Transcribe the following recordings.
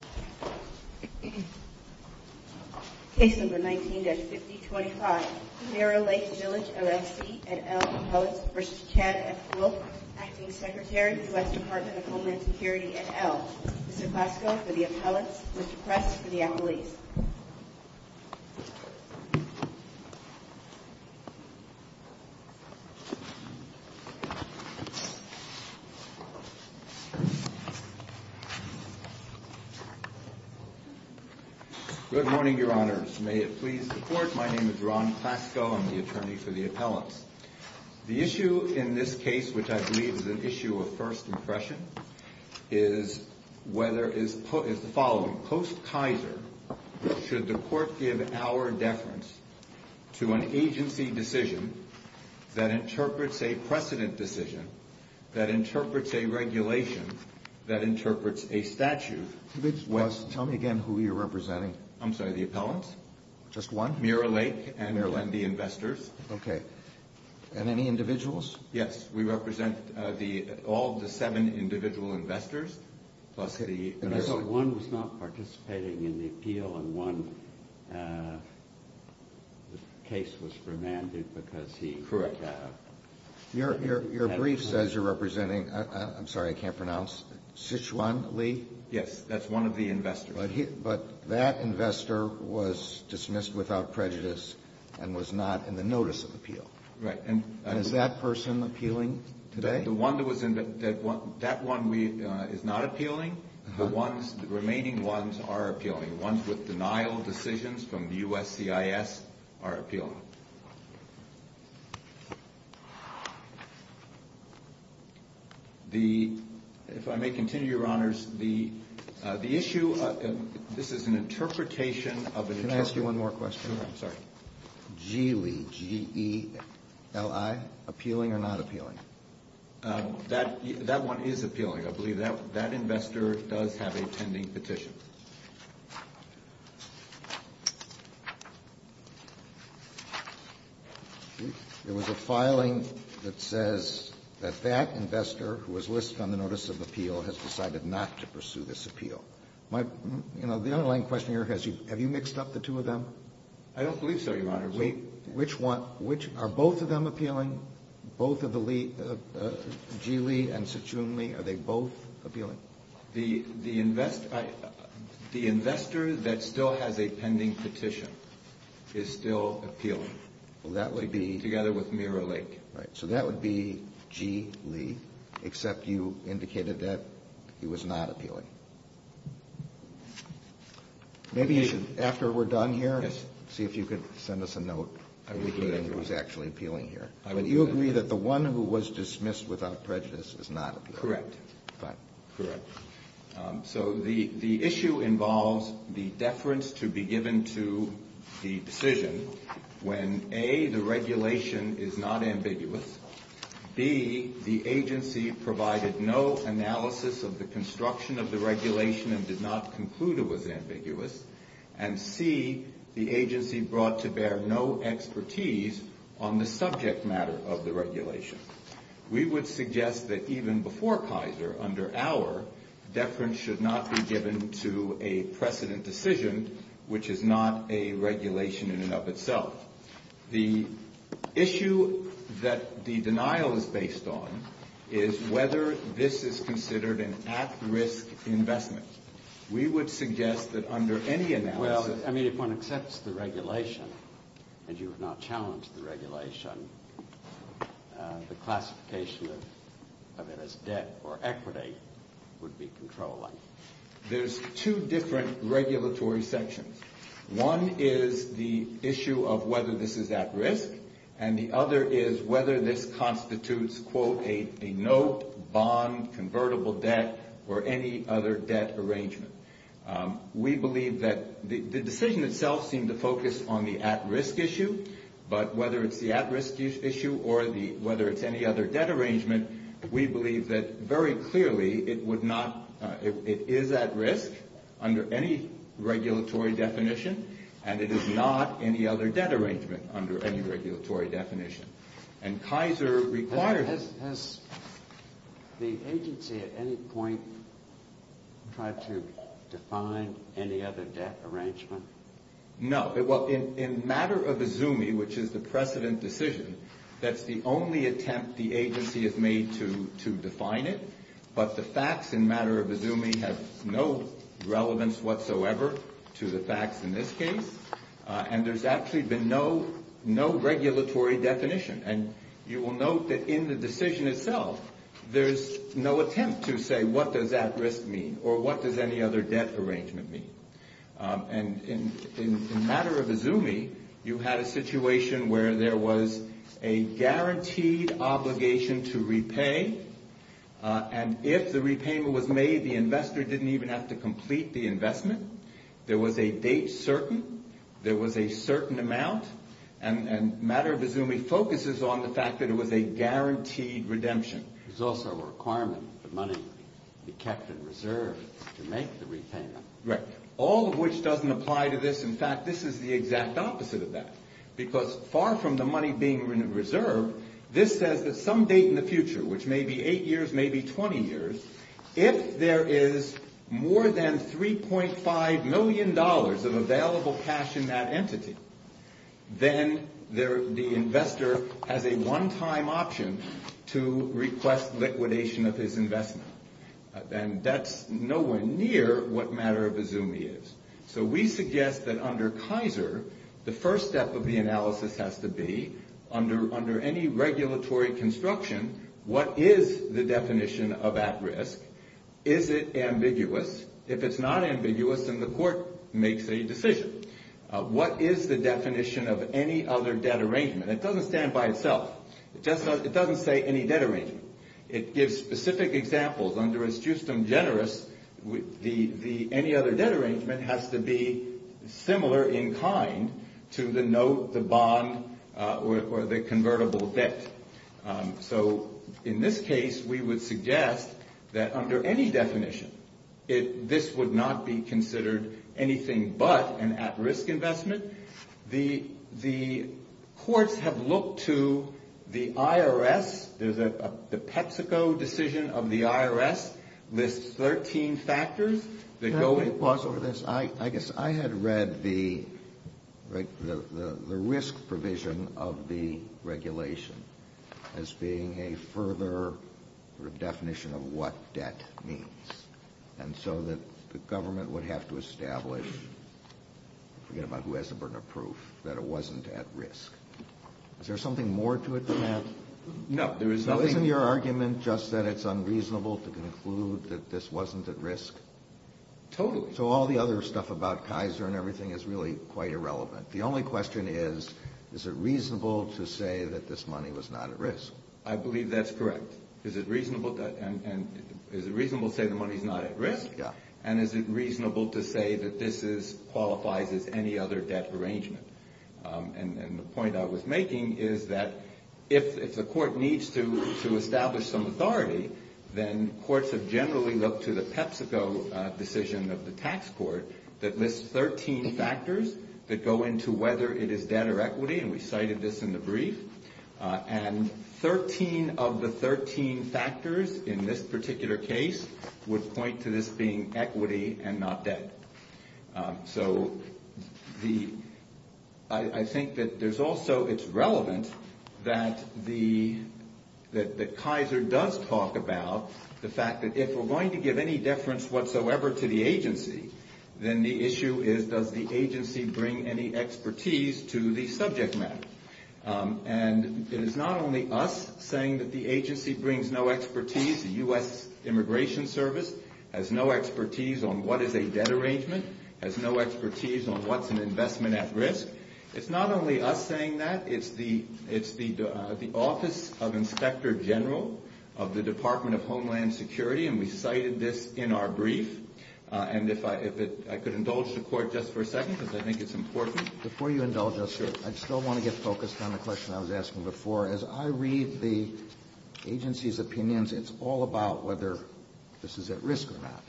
Acting Secretary, U.S. Department of Homeland Security et al. Mr. Cosco for the appellants. Mr. Press for the appellees. Good morning, Your Honors. May it please the Court, my name is Ron Cosco. I'm the attorney for the appellants. The issue in this case, which I believe is an issue of first impression, is whether, is the following. Post-Kaiser, should the Court give our deference to an agency decision that interprets a precedent decision, that interprets a regulation, that interprets a statute. Tell me again who you're representing. I'm sorry, the appellants? Just one? Muir Lake and the investors. Okay. And any individuals? Yes, we represent all the seven individual investors. So one was not participating in the appeal and one case was remanded because he... Correct. Your brief says you're representing, I'm sorry, I can't pronounce, Sichuan Li? Yes, that's one of the investors. But that investor was dismissed without prejudice and was not in the notice of appeal. Right. Is that person appealing today? The one that was, that one is not appealing. The ones, the remaining ones are appealing. The ones with denial decisions from the USCIS are appealing. The, if I may continue, Your Honors, the issue, this is an interpretation of an... Can I ask you one more question? I'm sorry. Geely, G-E-L-I, appealing or not appealing? That one is appealing. I believe that investor does have a tending petition. There was a filing that says that that investor, who was listed on the notice of appeal, has decided not to pursue this appeal. You know, the underlying question here, have you mixed up the two of them? I don't believe so, Your Honor. Which one, are both of them appealing? Both of the Geely and Sichuan Li, are they both appealing? The investor that still has a pending petition is still appealing. Well, that would be... Together with Miro Lake. Right, so that would be G-E-L-I, except you indicated that he was not appealing. Maybe after we're done here, see if you could send us a note indicating he was actually appealing here. Do you agree that the one who was dismissed without prejudice is not appealing? Correct. Fine. Correct. So the issue involves the deference to be given to the decision when, A, the regulation is not ambiguous, B, the agency provided no analysis of the construction of the regulation and did not conclude it was ambiguous, and C, the agency brought to bear no expertise on the subject matter of the regulation. We would suggest that even before Kaiser, under our, deference should not be given to a precedent decision, which is not a regulation in and of itself. The issue that the denial is based on is whether this is considered an at-risk investment. We would suggest that under any analysis... Well, I mean, if one accepts the regulation and you have not challenged the regulation, the classification of it as debt or equity would be controlling. There's two different regulatory sections. One is the issue of whether this is at risk, and the other is whether this constitutes, quote, a no-bond convertible debt or any other debt arrangement. We believe that the decision itself seemed to focus on the at-risk issue, but whether it's the at-risk issue or whether it's any other debt arrangement, we believe that very clearly it would not, it is at risk under any regulatory definition, and it is not any other debt arrangement under any regulatory definition. And Kaiser requires... Has the agency at any point tried to define any other debt arrangement? No. Well, in matter of Izumi, which is the precedent decision, that's the only attempt the agency has made to define it, but the facts in matter of Izumi have no relevance whatsoever to the facts in this case, and there's actually been no regulatory definition. And you will note that in the decision itself there's no attempt to say what does at-risk mean or what does any other debt arrangement mean. And in matter of Izumi, you had a situation where there was a guaranteed obligation to repay, and if the repayment was made, the investor didn't even have to complete the investment, there was a date certain, there was a certain amount, and matter of Izumi focuses on the fact that it was a guaranteed redemption. There's also a requirement that money be kept in reserve to make the repayment. Right, all of which doesn't apply to this. In fact, this is the exact opposite of that, because far from the money being in reserve, this says that some date in the future, which may be eight years, may be 20 years, if there is more than $3.5 million of available cash in that entity, then the investor has a one-time option to request liquidation of his investment. And that's nowhere near what matter of Izumi is. So we suggest that under Kaiser, the first step of the analysis has to be, under any regulatory construction, what is the definition of at-risk? Is it ambiguous? If it's not ambiguous, then the court makes a decision. What is the definition of any other debt arrangement? It doesn't stand by itself. It doesn't say any debt arrangement. It gives specific examples. Under astutium generis, the any other debt arrangement has to be similar in kind to the note, the bond, or the convertible debt. So in this case, we would suggest that under any definition, this would not be considered anything but an at-risk investment. The courts have looked to the IRS. There's a PepsiCo decision of the IRS. It lists 13 factors that go with this. I guess I had read the risk provision of the regulation as being a further sort of definition of what debt means, and so that the government would have to establish, forget about who has the burden of proof, that it wasn't at risk. Is there something more to it than that? No. Isn't your argument just that it's unreasonable to conclude that this wasn't at risk? Totally. So all the other stuff about Kaiser and everything is really quite irrelevant. I believe that's correct. Is it reasonable to say the money is not at risk? Yeah. And is it reasonable to say that this qualifies as any other debt arrangement? And the point I was making is that if the court needs to establish some authority, then courts have generally looked to the PepsiCo decision of the tax court that lists 13 factors that go into whether it is debt or equity, and we cited this in the brief. And 13 of the 13 factors in this particular case would point to this being equity and not debt. So I think that there's also it's relevant that Kaiser does talk about the fact that if we're going to give any deference whatsoever to the agency, then the issue is does the agency bring any expertise to the subject matter. And it is not only us saying that the agency brings no expertise, the U.S. Immigration Service has no expertise on what is a debt arrangement, has no expertise on what's an investment at risk. It's not only us saying that. It's the Office of Inspector General of the Department of Homeland Security, and we cited this in our brief. And if I could indulge the court just for a second because I think it's important. Before you indulge us, sir, I still want to get focused on the question I was asking before. As I read the agency's opinions, it's all about whether this is at risk or not,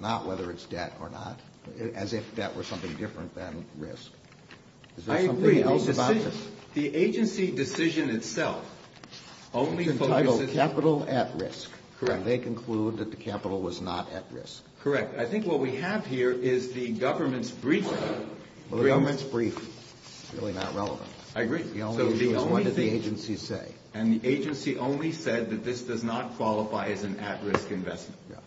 not whether it's debt or not, as if debt were something different than risk. Is there something else about this? I agree. The agency decision itself only focuses on capital at risk. Correct. And they conclude that the capital was not at risk. Correct. I think what we have here is the government's briefing. Well, the government's briefing is really not relevant. I agree. The only issue is what did the agency say? And the agency only said that this does not qualify as an at-risk investment. Yeah.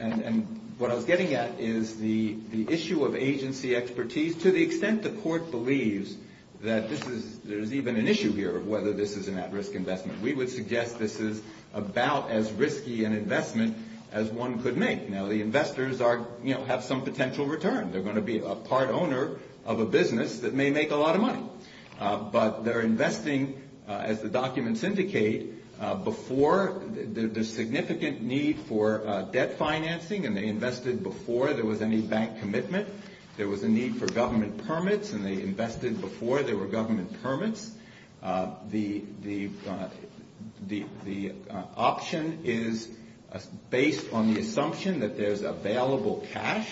And what I was getting at is the issue of agency expertise, to the extent the court believes that there's even an issue here of whether this is an at-risk investment. We would suggest this is about as risky an investment as one could make. Now, the investors have some potential return. They're going to be a part owner of a business that may make a lot of money. But they're investing, as the documents indicate, before the significant need for debt financing, and they invested before there was any bank commitment. There was a need for government permits, and they invested before there were government permits. The option is based on the assumption that there's available cash.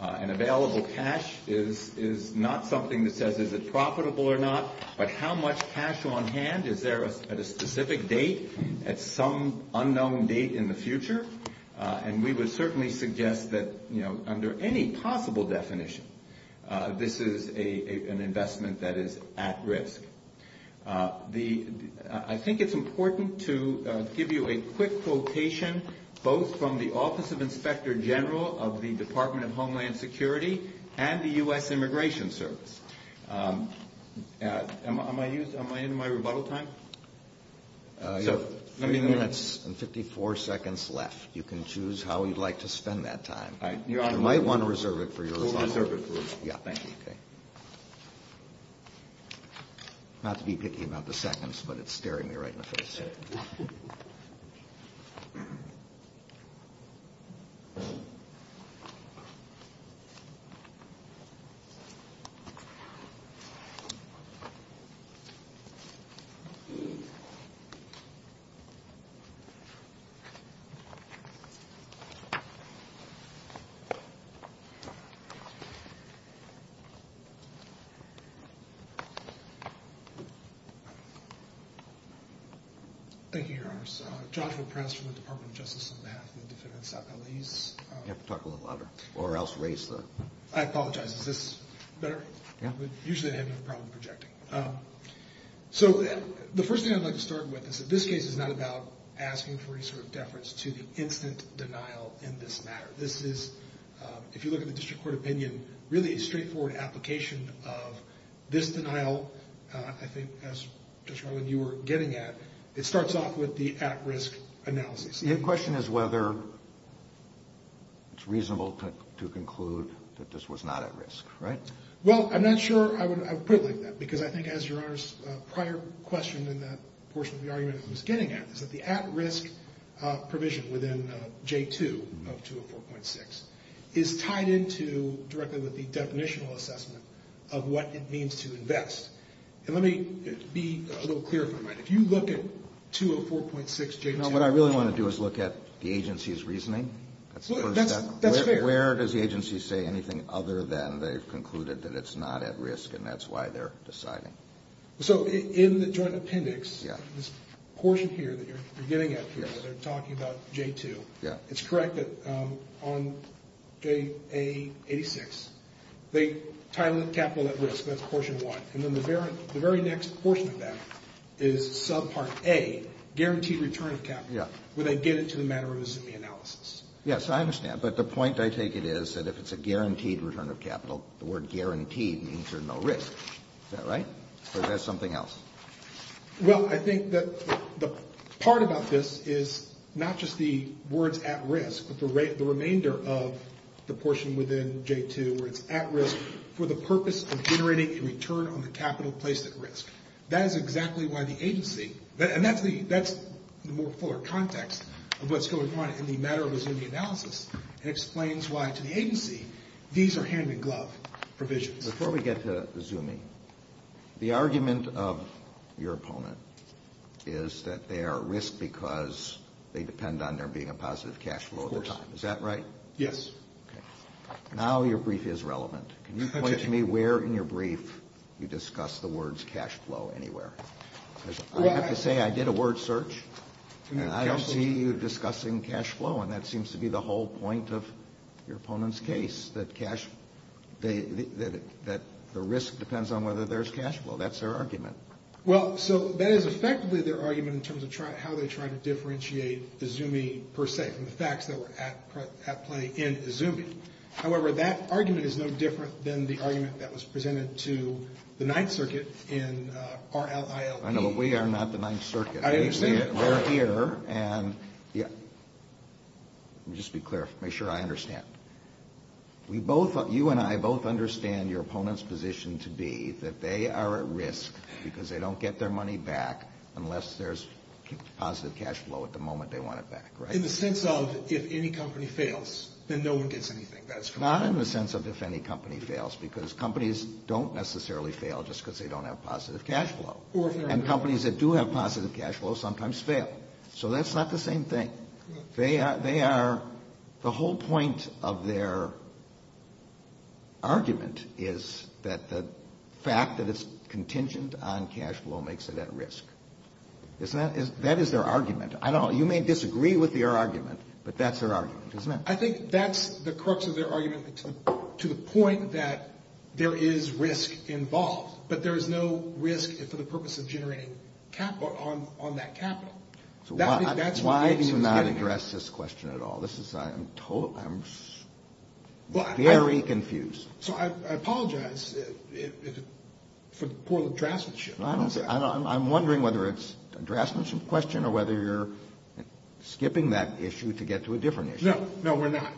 And available cash is not something that says is it profitable or not, but how much cash on hand? Is there at a specific date, at some unknown date in the future? And we would certainly suggest that under any possible definition, this is an investment that is at risk. I think it's important to give you a quick quotation, both from the Office of Inspector General of the Department of Homeland Security and the U.S. Immigration Service. Am I in my rebuttal time? You have three minutes and 54 seconds left. You can choose how you'd like to spend that time. You might want to reserve it for your rebuttal. We'll reserve it for it. Yeah, thank you. Not to be picky about the seconds, but it's staring me right in the face. Thank you. Thank you, Your Honors. Joshua Press from the Department of Justice on behalf of the defendants at Ely's. You have to talk a little louder, or else raise the... I apologize. Is this better? Yeah. Usually I have no problem projecting. So the first thing I'd like to start with is that this case is not about asking for any sort of deference to the instant denial in this matter. This is, if you look at the district court opinion, really a straightforward application of this denial. I think, as Judge Rowland, you were getting at, it starts off with the at-risk analysis. The question is whether it's reasonable to conclude that this was not at risk, right? Well, I'm not sure I would put it like that, because I think, as Your Honors, prior question in that portion of the argument I was getting at, is that the at-risk provision within J2 of 204.6 is tied into directly with the definitional assessment of what it means to invest. And let me be a little clearer if I might. If you look at 204.6 J2... No, what I really want to do is look at the agency's reasoning. That's fair. Where does the agency say anything other than they've concluded that it's not at risk, and that's why they're deciding? So in the joint appendix, this portion here that you're getting at here where they're talking about J2, it's correct that on JA86, they title it capital at risk. That's portion one. And then the very next portion of that is subpart A, guaranteed return of capital, where they get it to the matter of a ZMI analysis. Yes, I understand. But the point I take it is that if it's a guaranteed return of capital, the word guaranteed means there's no risk. Is that right? Or is that something else? Well, I think that the part about this is not just the words at risk, but the remainder of the portion within J2 where it's at risk for the purpose of generating a return on the capital placed at risk. That is exactly why the agency, and that's the more fuller context of what's going on in the matter of a ZMI analysis. It explains why to the agency these are hand-in-glove provisions. Before we get to the ZMI, the argument of your opponent is that they are at risk because they depend on there being a positive cash flow at the time. Of course. Is that right? Yes. Okay. Now your brief is relevant. Can you point to me where in your brief you discuss the words cash flow anywhere? I have to say I did a word search, and I don't see you discussing cash flow, and that seems to be the whole point of your opponent's case, that the risk depends on whether there's cash flow. That's their argument. Well, so that is effectively their argument in terms of how they try to differentiate the ZMI per se from the facts that were at play in ZMI. However, that argument is no different than the argument that was presented to the Ninth Circuit in RLILB. I know, but we are not the Ninth Circuit. I understand that. We're here, and just to be clear, make sure I understand. You and I both understand your opponent's position to be that they are at risk because they don't get their money back unless there's positive cash flow at the moment they want it back, right? In the sense of if any company fails, then no one gets anything. Not in the sense of if any company fails, because companies don't necessarily fail just because they don't have positive cash flow. And companies that do have positive cash flow sometimes fail. So that's not the same thing. They are the whole point of their argument is that the fact that it's contingent on cash flow makes it at risk. That is their argument. I don't know. You may disagree with their argument, but that's their argument, isn't it? I think that's the crux of their argument to the point that there is risk involved, but there is no risk for the purpose of generating capital on that capital. So why do you not address this question at all? I'm very confused. So I apologize for the poor addressmanship. I'm wondering whether it's an addressmanship question or whether you're skipping that issue to get to a different issue. No, we're not.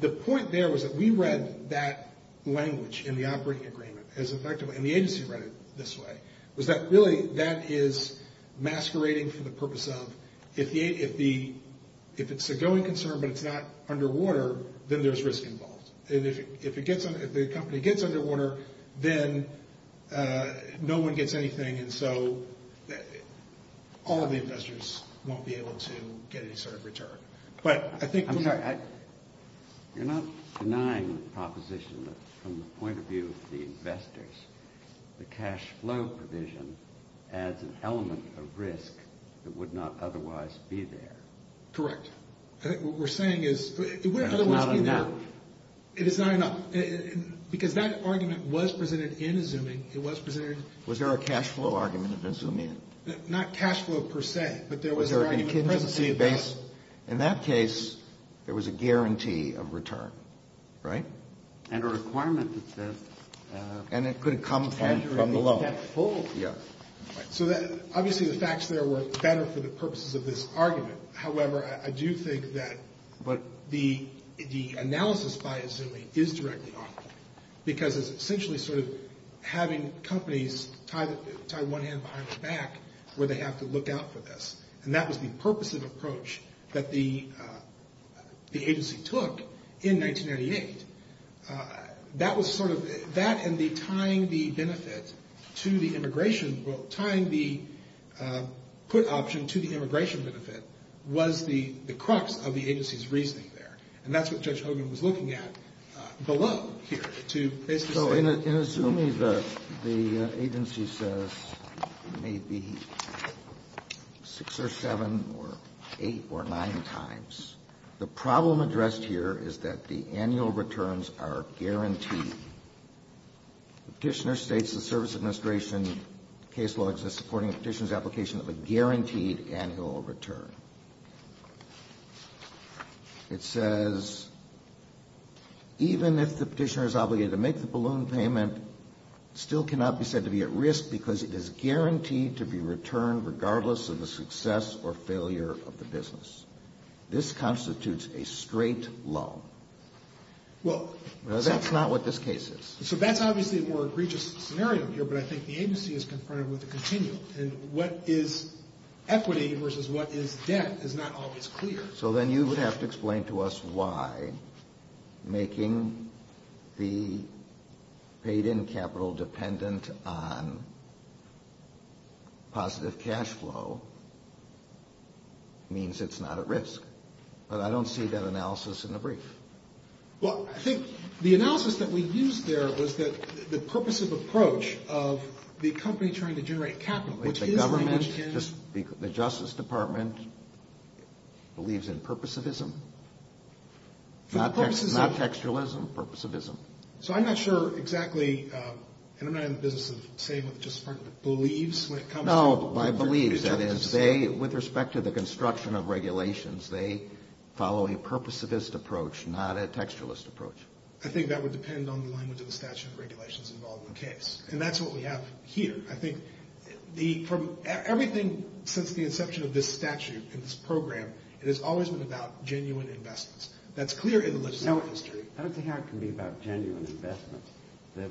The point there was that we read that language in the operating agreement as effective, and the agency read it this way, was that really that is masquerading for the purpose of if it's a going concern but it's not underwater, then there's risk involved. If the company gets underwater, then no one gets anything, and so all of the investors won't be able to get any sort of return. I'm sorry. You're not denying the proposition that from the point of view of the investors, the cash flow provision adds an element of risk that would not otherwise be there. Correct. What we're saying is it wouldn't otherwise be there. It's not enough. It is not enough. Because that argument was presented in a zooming. It was presented. Was there a cash flow argument that zoomed in? Not cash flow per se, but there was an argument. Was there a contingency of base? In that case, there was a guarantee of return, right? And a requirement that says. And it could have come from the loan. So obviously the facts there were better for the purposes of this argument. However, I do think that the analysis by a zooming is directly off. Because it's essentially sort of having companies tie one hand behind their back where they have to look out for this. And that was the purposive approach that the agency took in 1998. That was sort of that and the tying the benefit to the immigration, well, tying the put option to the immigration benefit was the crux of the agency's reasoning there. And that's what Judge Hogan was looking at below here to basically say. So in a zooming, the agency says maybe six or seven or eight or nine times. The problem addressed here is that the annual returns are guaranteed. The Petitioner states the Service Administration case law exists according to the Petitioner's application of a guaranteed annual return. It says, even if the Petitioner is obligated to make the balloon payment, it still cannot be said to be at risk because it is guaranteed to be returned regardless of the success or failure of the business. This constitutes a straight loan. That's not what this case is. So that's obviously a more egregious scenario here, but I think the agency is confronted with a continuum. And what is equity versus what is debt is not always clear. So then you would have to explain to us why making the paid-in capital dependent on positive cash flow means it's not at risk. But I don't see that analysis in the brief. Well, I think the analysis that we used there was that the purposive approach of the company trying to generate capital, which is language in the Justice Department, believes in purposivism, not textualism, purposivism. So I'm not sure exactly, and I'm not in the business of saying what the Justice Department believes when it comes to purposivism. No, by believes, that is. Because they, with respect to the construction of regulations, they follow a purposivist approach, not a textualist approach. I think that would depend on the language of the statute and regulations involved in the case. And that's what we have here. I think from everything since the inception of this statute and this program, it has always been about genuine investments. That's clear in the legislative history. I don't see how it can be about genuine investments. The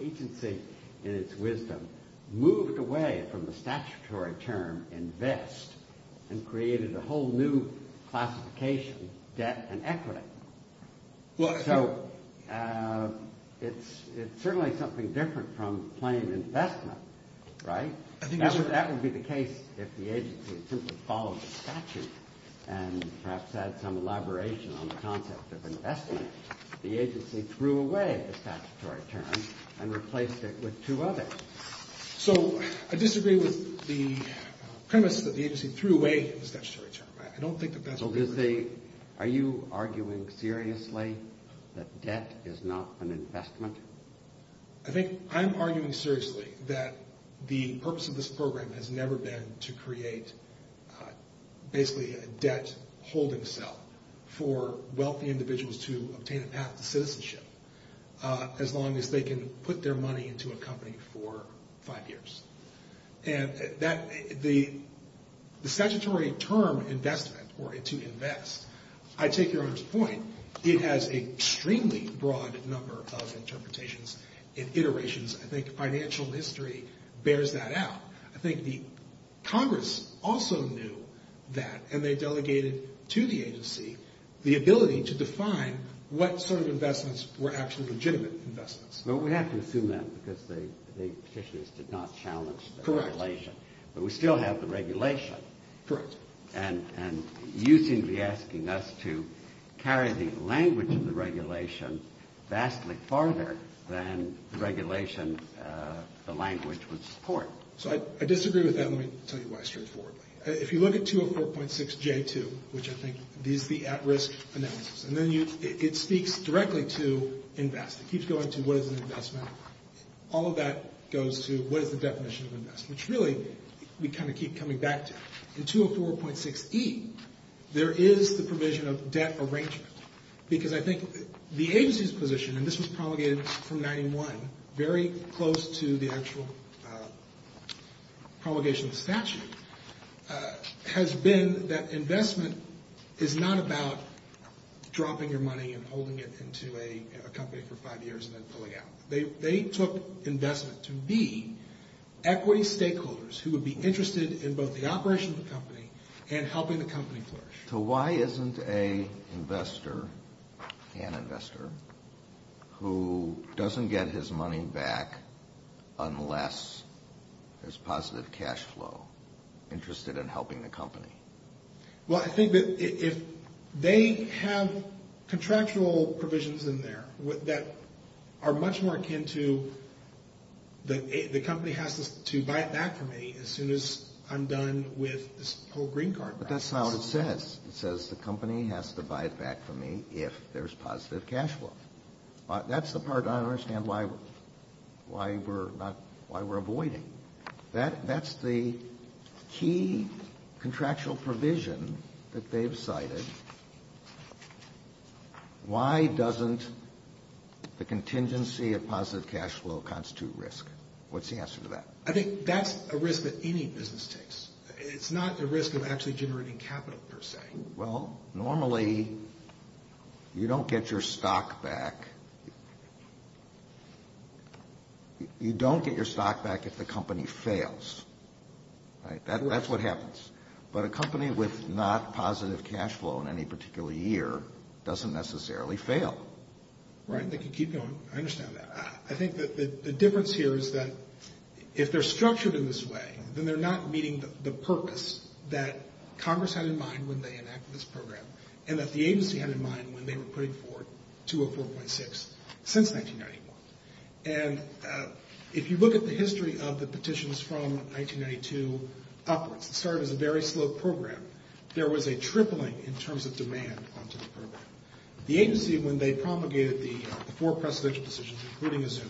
agency, in its wisdom, moved away from the statutory term invest and created a whole new classification, debt and equity. So it's certainly something different from plain investment, right? That would be the case if the agency simply followed the statute and perhaps had some elaboration on the concept of investment. The agency threw away the statutory term and replaced it with two others. So I disagree with the premise that the agency threw away the statutory term. I don't think that that's a good thing. So are you arguing seriously that debt is not an investment? I think I'm arguing seriously that the purpose of this program has never been to create basically a debt holding cell for wealthy individuals to obtain a path to citizenship as long as they can put their money into a company for five years. And the statutory term investment or to invest, I take your Honor's point, it has an extremely broad number of interpretations and iterations. I think financial history bears that out. I think the Congress also knew that, and they delegated to the agency the ability to define what sort of investments were actually legitimate investments. Well, we have to assume that because the petitioners did not challenge the regulation. But we still have the regulation. Correct. And you seem to be asking us to carry the language of the regulation vastly farther than the regulation the language would support. So I disagree with that. Let me tell you why straightforwardly. If you look at 204.6J2, which I think is the at-risk analysis, and then it speaks directly to invest. It keeps going to what is an investment. All of that goes to what is the definition of investment, which really we kind of keep coming back to. In 204.6E, there is the provision of debt arrangement because I think the agency's position, and this was promulgated from 91, very close to the actual promulgation of the statute, has been that investment is not about dropping your money and holding it into a company for five years and then pulling out. They took investment to be equity stakeholders who would be interested in both the operation of the company and helping the company flourish. So why isn't an investor who doesn't get his money back unless there's positive cash flow interested in helping the company? Well, I think that if they have contractual provisions in there that are much more akin to the company has to buy it back from me as soon as I'm done with this whole green card process. That's not what it says. It says the company has to buy it back from me if there's positive cash flow. That's the part I don't understand why we're avoiding. That's the key contractual provision that they've cited. Why doesn't the contingency of positive cash flow constitute risk? What's the answer to that? I think that's a risk that any business takes. It's not a risk of actually generating capital per se. Well, normally you don't get your stock back. You don't get your stock back if the company fails. That's what happens. But a company with not positive cash flow in any particular year doesn't necessarily fail. Right. I think you keep going. I understand that. I think that the difference here is that if they're structured in this way, then they're not meeting the purpose that Congress had in mind when they enacted this program and that the agency had in mind when they were putting forward 204.6 since 1991. And if you look at the history of the petitions from 1992 upwards, it started as a very slow program. There was a tripling in terms of demand onto the program. The agency, when they promulgated the four presidential decisions, including Azumi,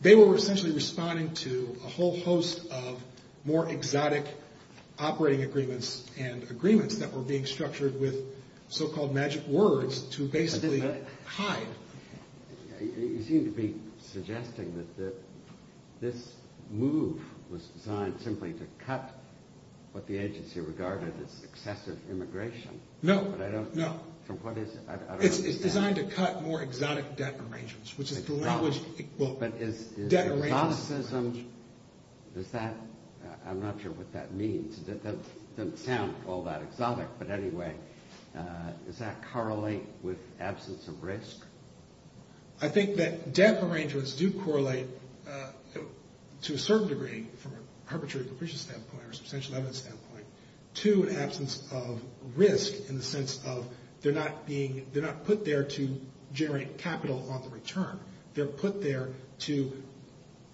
they were essentially responding to a whole host of more exotic operating agreements and agreements that were being structured with so-called magic words to basically hide. You seem to be suggesting that this move was designed simply to cut what the agency regarded as excessive immigration. No. It's designed to cut more exotic debt arrangements, which is the language. But is exoticism, I'm not sure what that means. It doesn't sound all that exotic. But anyway, does that correlate with absence of risk? I think that debt arrangements do correlate to a certain degree from a perpetrator's standpoint or substantial evidence standpoint to an absence of risk in the sense of they're not put there to generate capital on the return. They're put there to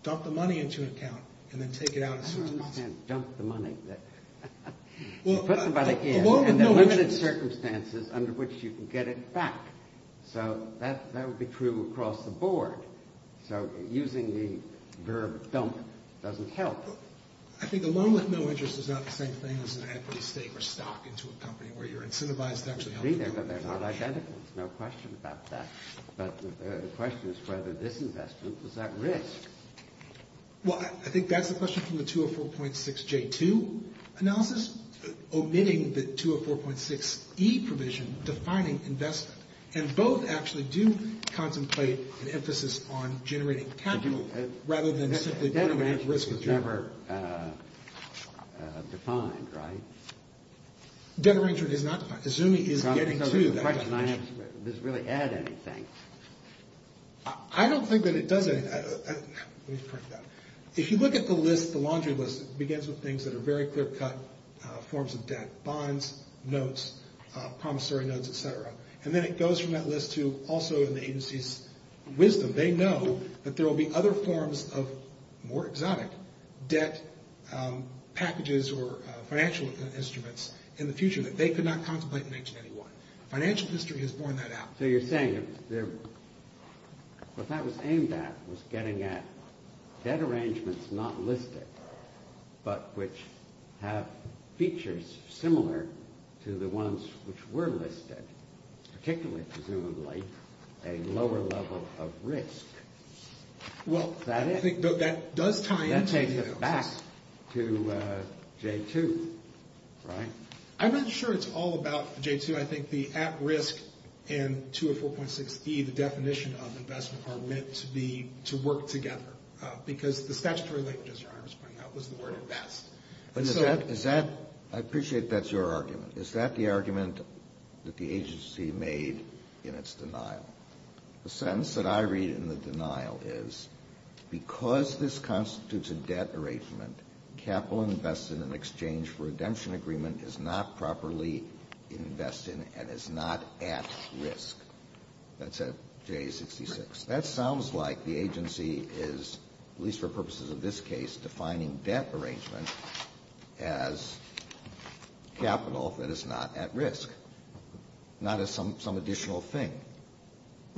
dump the money into an account and then take it out as soon as possible. You can't dump the money. You put somebody in and there are limited circumstances under which you can get it back. So that would be true across the board. So using the verb dump doesn't help. I think a loan with no interest is not the same thing as an equity stake or stock into a company where you're incentivized to actually help. But they're not identical. There's no question about that. But the question is whether this investment is at risk. Well, I think that's the question from the 204.6J2 analysis, omitting the 204.6E provision defining investment. And both actually do contemplate an emphasis on generating capital rather than simply generating risk. So this is never defined, right? Debt arrangement is not defined. The ZUMI is getting to that definition. The question I have is does it really add anything? I don't think that it does anything. Let me correct that. If you look at the list, the laundry list, it begins with things that are very clear-cut forms of debt, bonds, notes, promissory notes, et cetera. And then it goes from that list to also in the agency's wisdom. They know that there will be other forms of more exotic debt packages or financial instruments in the future that they could not contemplate in 1881. Financial history has borne that out. So you're saying what that was aimed at was getting at debt arrangements not listed but which have features similar to the ones which were listed, particularly presumably a lower level of risk. Well, I think that does tie into the analysis. That takes us back to J2, right? I'm not sure it's all about J2. I think the at-risk and 204.6E, the definition of investment, are meant to work together. Because the statutory language, as your Honor was pointing out, was the word invest. I appreciate that's your argument. Is that the argument that the agency made in its denial? The sentence that I read in the denial is, because this constitutes a debt arrangement, capital invested in exchange for redemption agreement is not properly invested and is not at risk. That's at J66. That sounds like the agency is, at least for purposes of this case, defining debt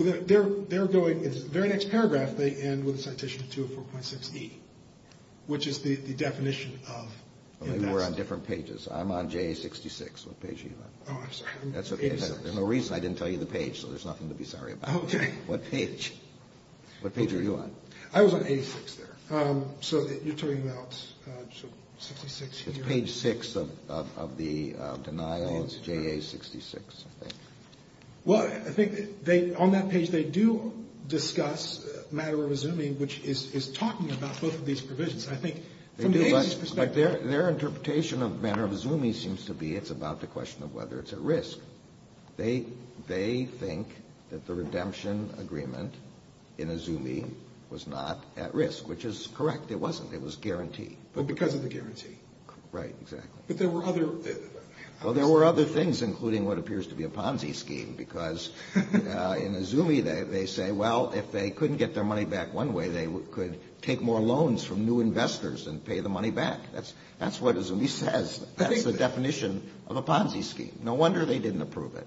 In the very next paragraph, they end with a citation of 204.6E, which is the definition of investment. We're on different pages. I'm on J66. What page are you on? Oh, I'm sorry. That's okay. There's no reason I didn't tell you the page, so there's nothing to be sorry about. Okay. What page? What page are you on? I was on 86 there. It's page 6 of the denial. It's JA66, I think. Well, I think on that page, they do discuss matter of assuming, which is talking about both of these provisions. I think from the agency's perspective. Their interpretation of matter of assuming seems to be it's about the question of whether it's at risk. They think that the redemption agreement in assuming was not at risk, which is correct. It wasn't. It was guaranteed. But because of the guarantee. Right. Exactly. But there were other. Well, there were other things, including what appears to be a Ponzi scheme. Because in Azumi, they say, well, if they couldn't get their money back one way, they could take more loans from new investors and pay the money back. That's what Azumi says. That's the definition of a Ponzi scheme. No wonder they didn't approve it.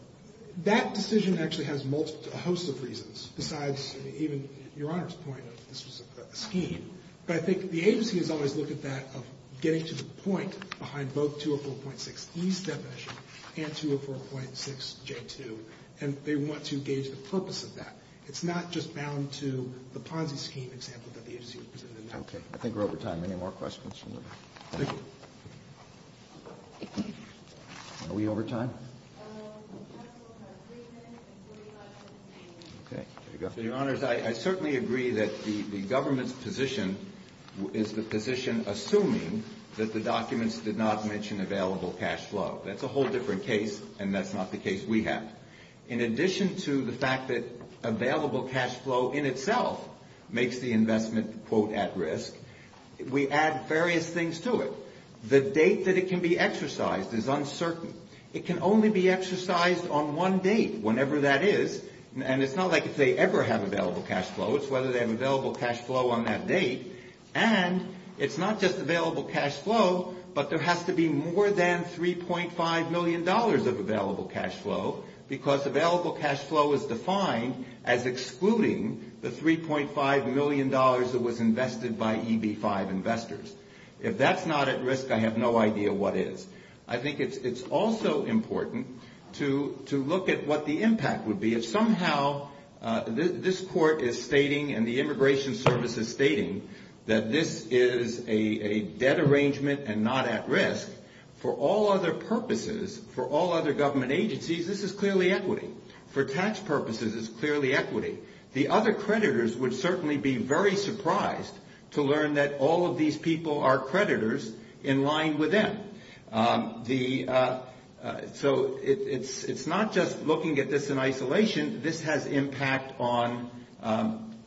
That decision actually has a host of reasons, besides even Your Honor's point of this was a scheme. But I think the agency has always looked at that of getting to the point behind both 204.6E's definition and 204.6J2. And they want to gauge the purpose of that. It's not just bound to the Ponzi scheme example that the agency presented. Okay. I think we're over time. Any more questions? Are we over time? Okay. There you go. Your Honors, I certainly agree that the government's position is the position assuming that the documents did not mention available cash flow. That's a whole different case, and that's not the case we have. In addition to the fact that available cash flow in itself makes the investment, quote, at risk, we add various things to it. The date that it can be exercised is uncertain. It can only be exercised on one date, whenever that is. And it's not like if they ever have available cash flow. It's whether they have available cash flow on that date. And it's not just available cash flow, but there has to be more than $3.5 million of available cash flow, because available cash flow is defined as excluding the $3.5 million that was invested by EB-5 investors. If that's not at risk, I have no idea what is. I think it's also important to look at what the impact would be. If somehow this Court is stating and the Immigration Service is stating that this is a debt arrangement and not at risk, for all other purposes, for all other government agencies, this is clearly equity. For tax purposes, it's clearly equity. The other creditors would certainly be very surprised to learn that all of these people are creditors in line with them. So it's not just looking at this in isolation. This has impact on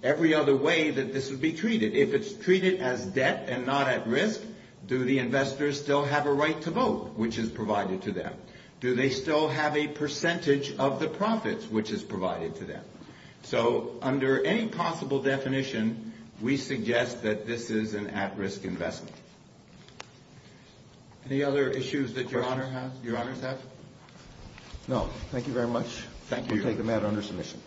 every other way that this would be treated. If it's treated as debt and not at risk, do the investors still have a right to vote, which is provided to them? Do they still have a percentage of the profits, which is provided to them? So under any possible definition, we suggest that this is an at-risk investment. Any other issues that Your Honor has, Your Honors have? No. Thank you very much. Thank you. We'll take the matter under submission.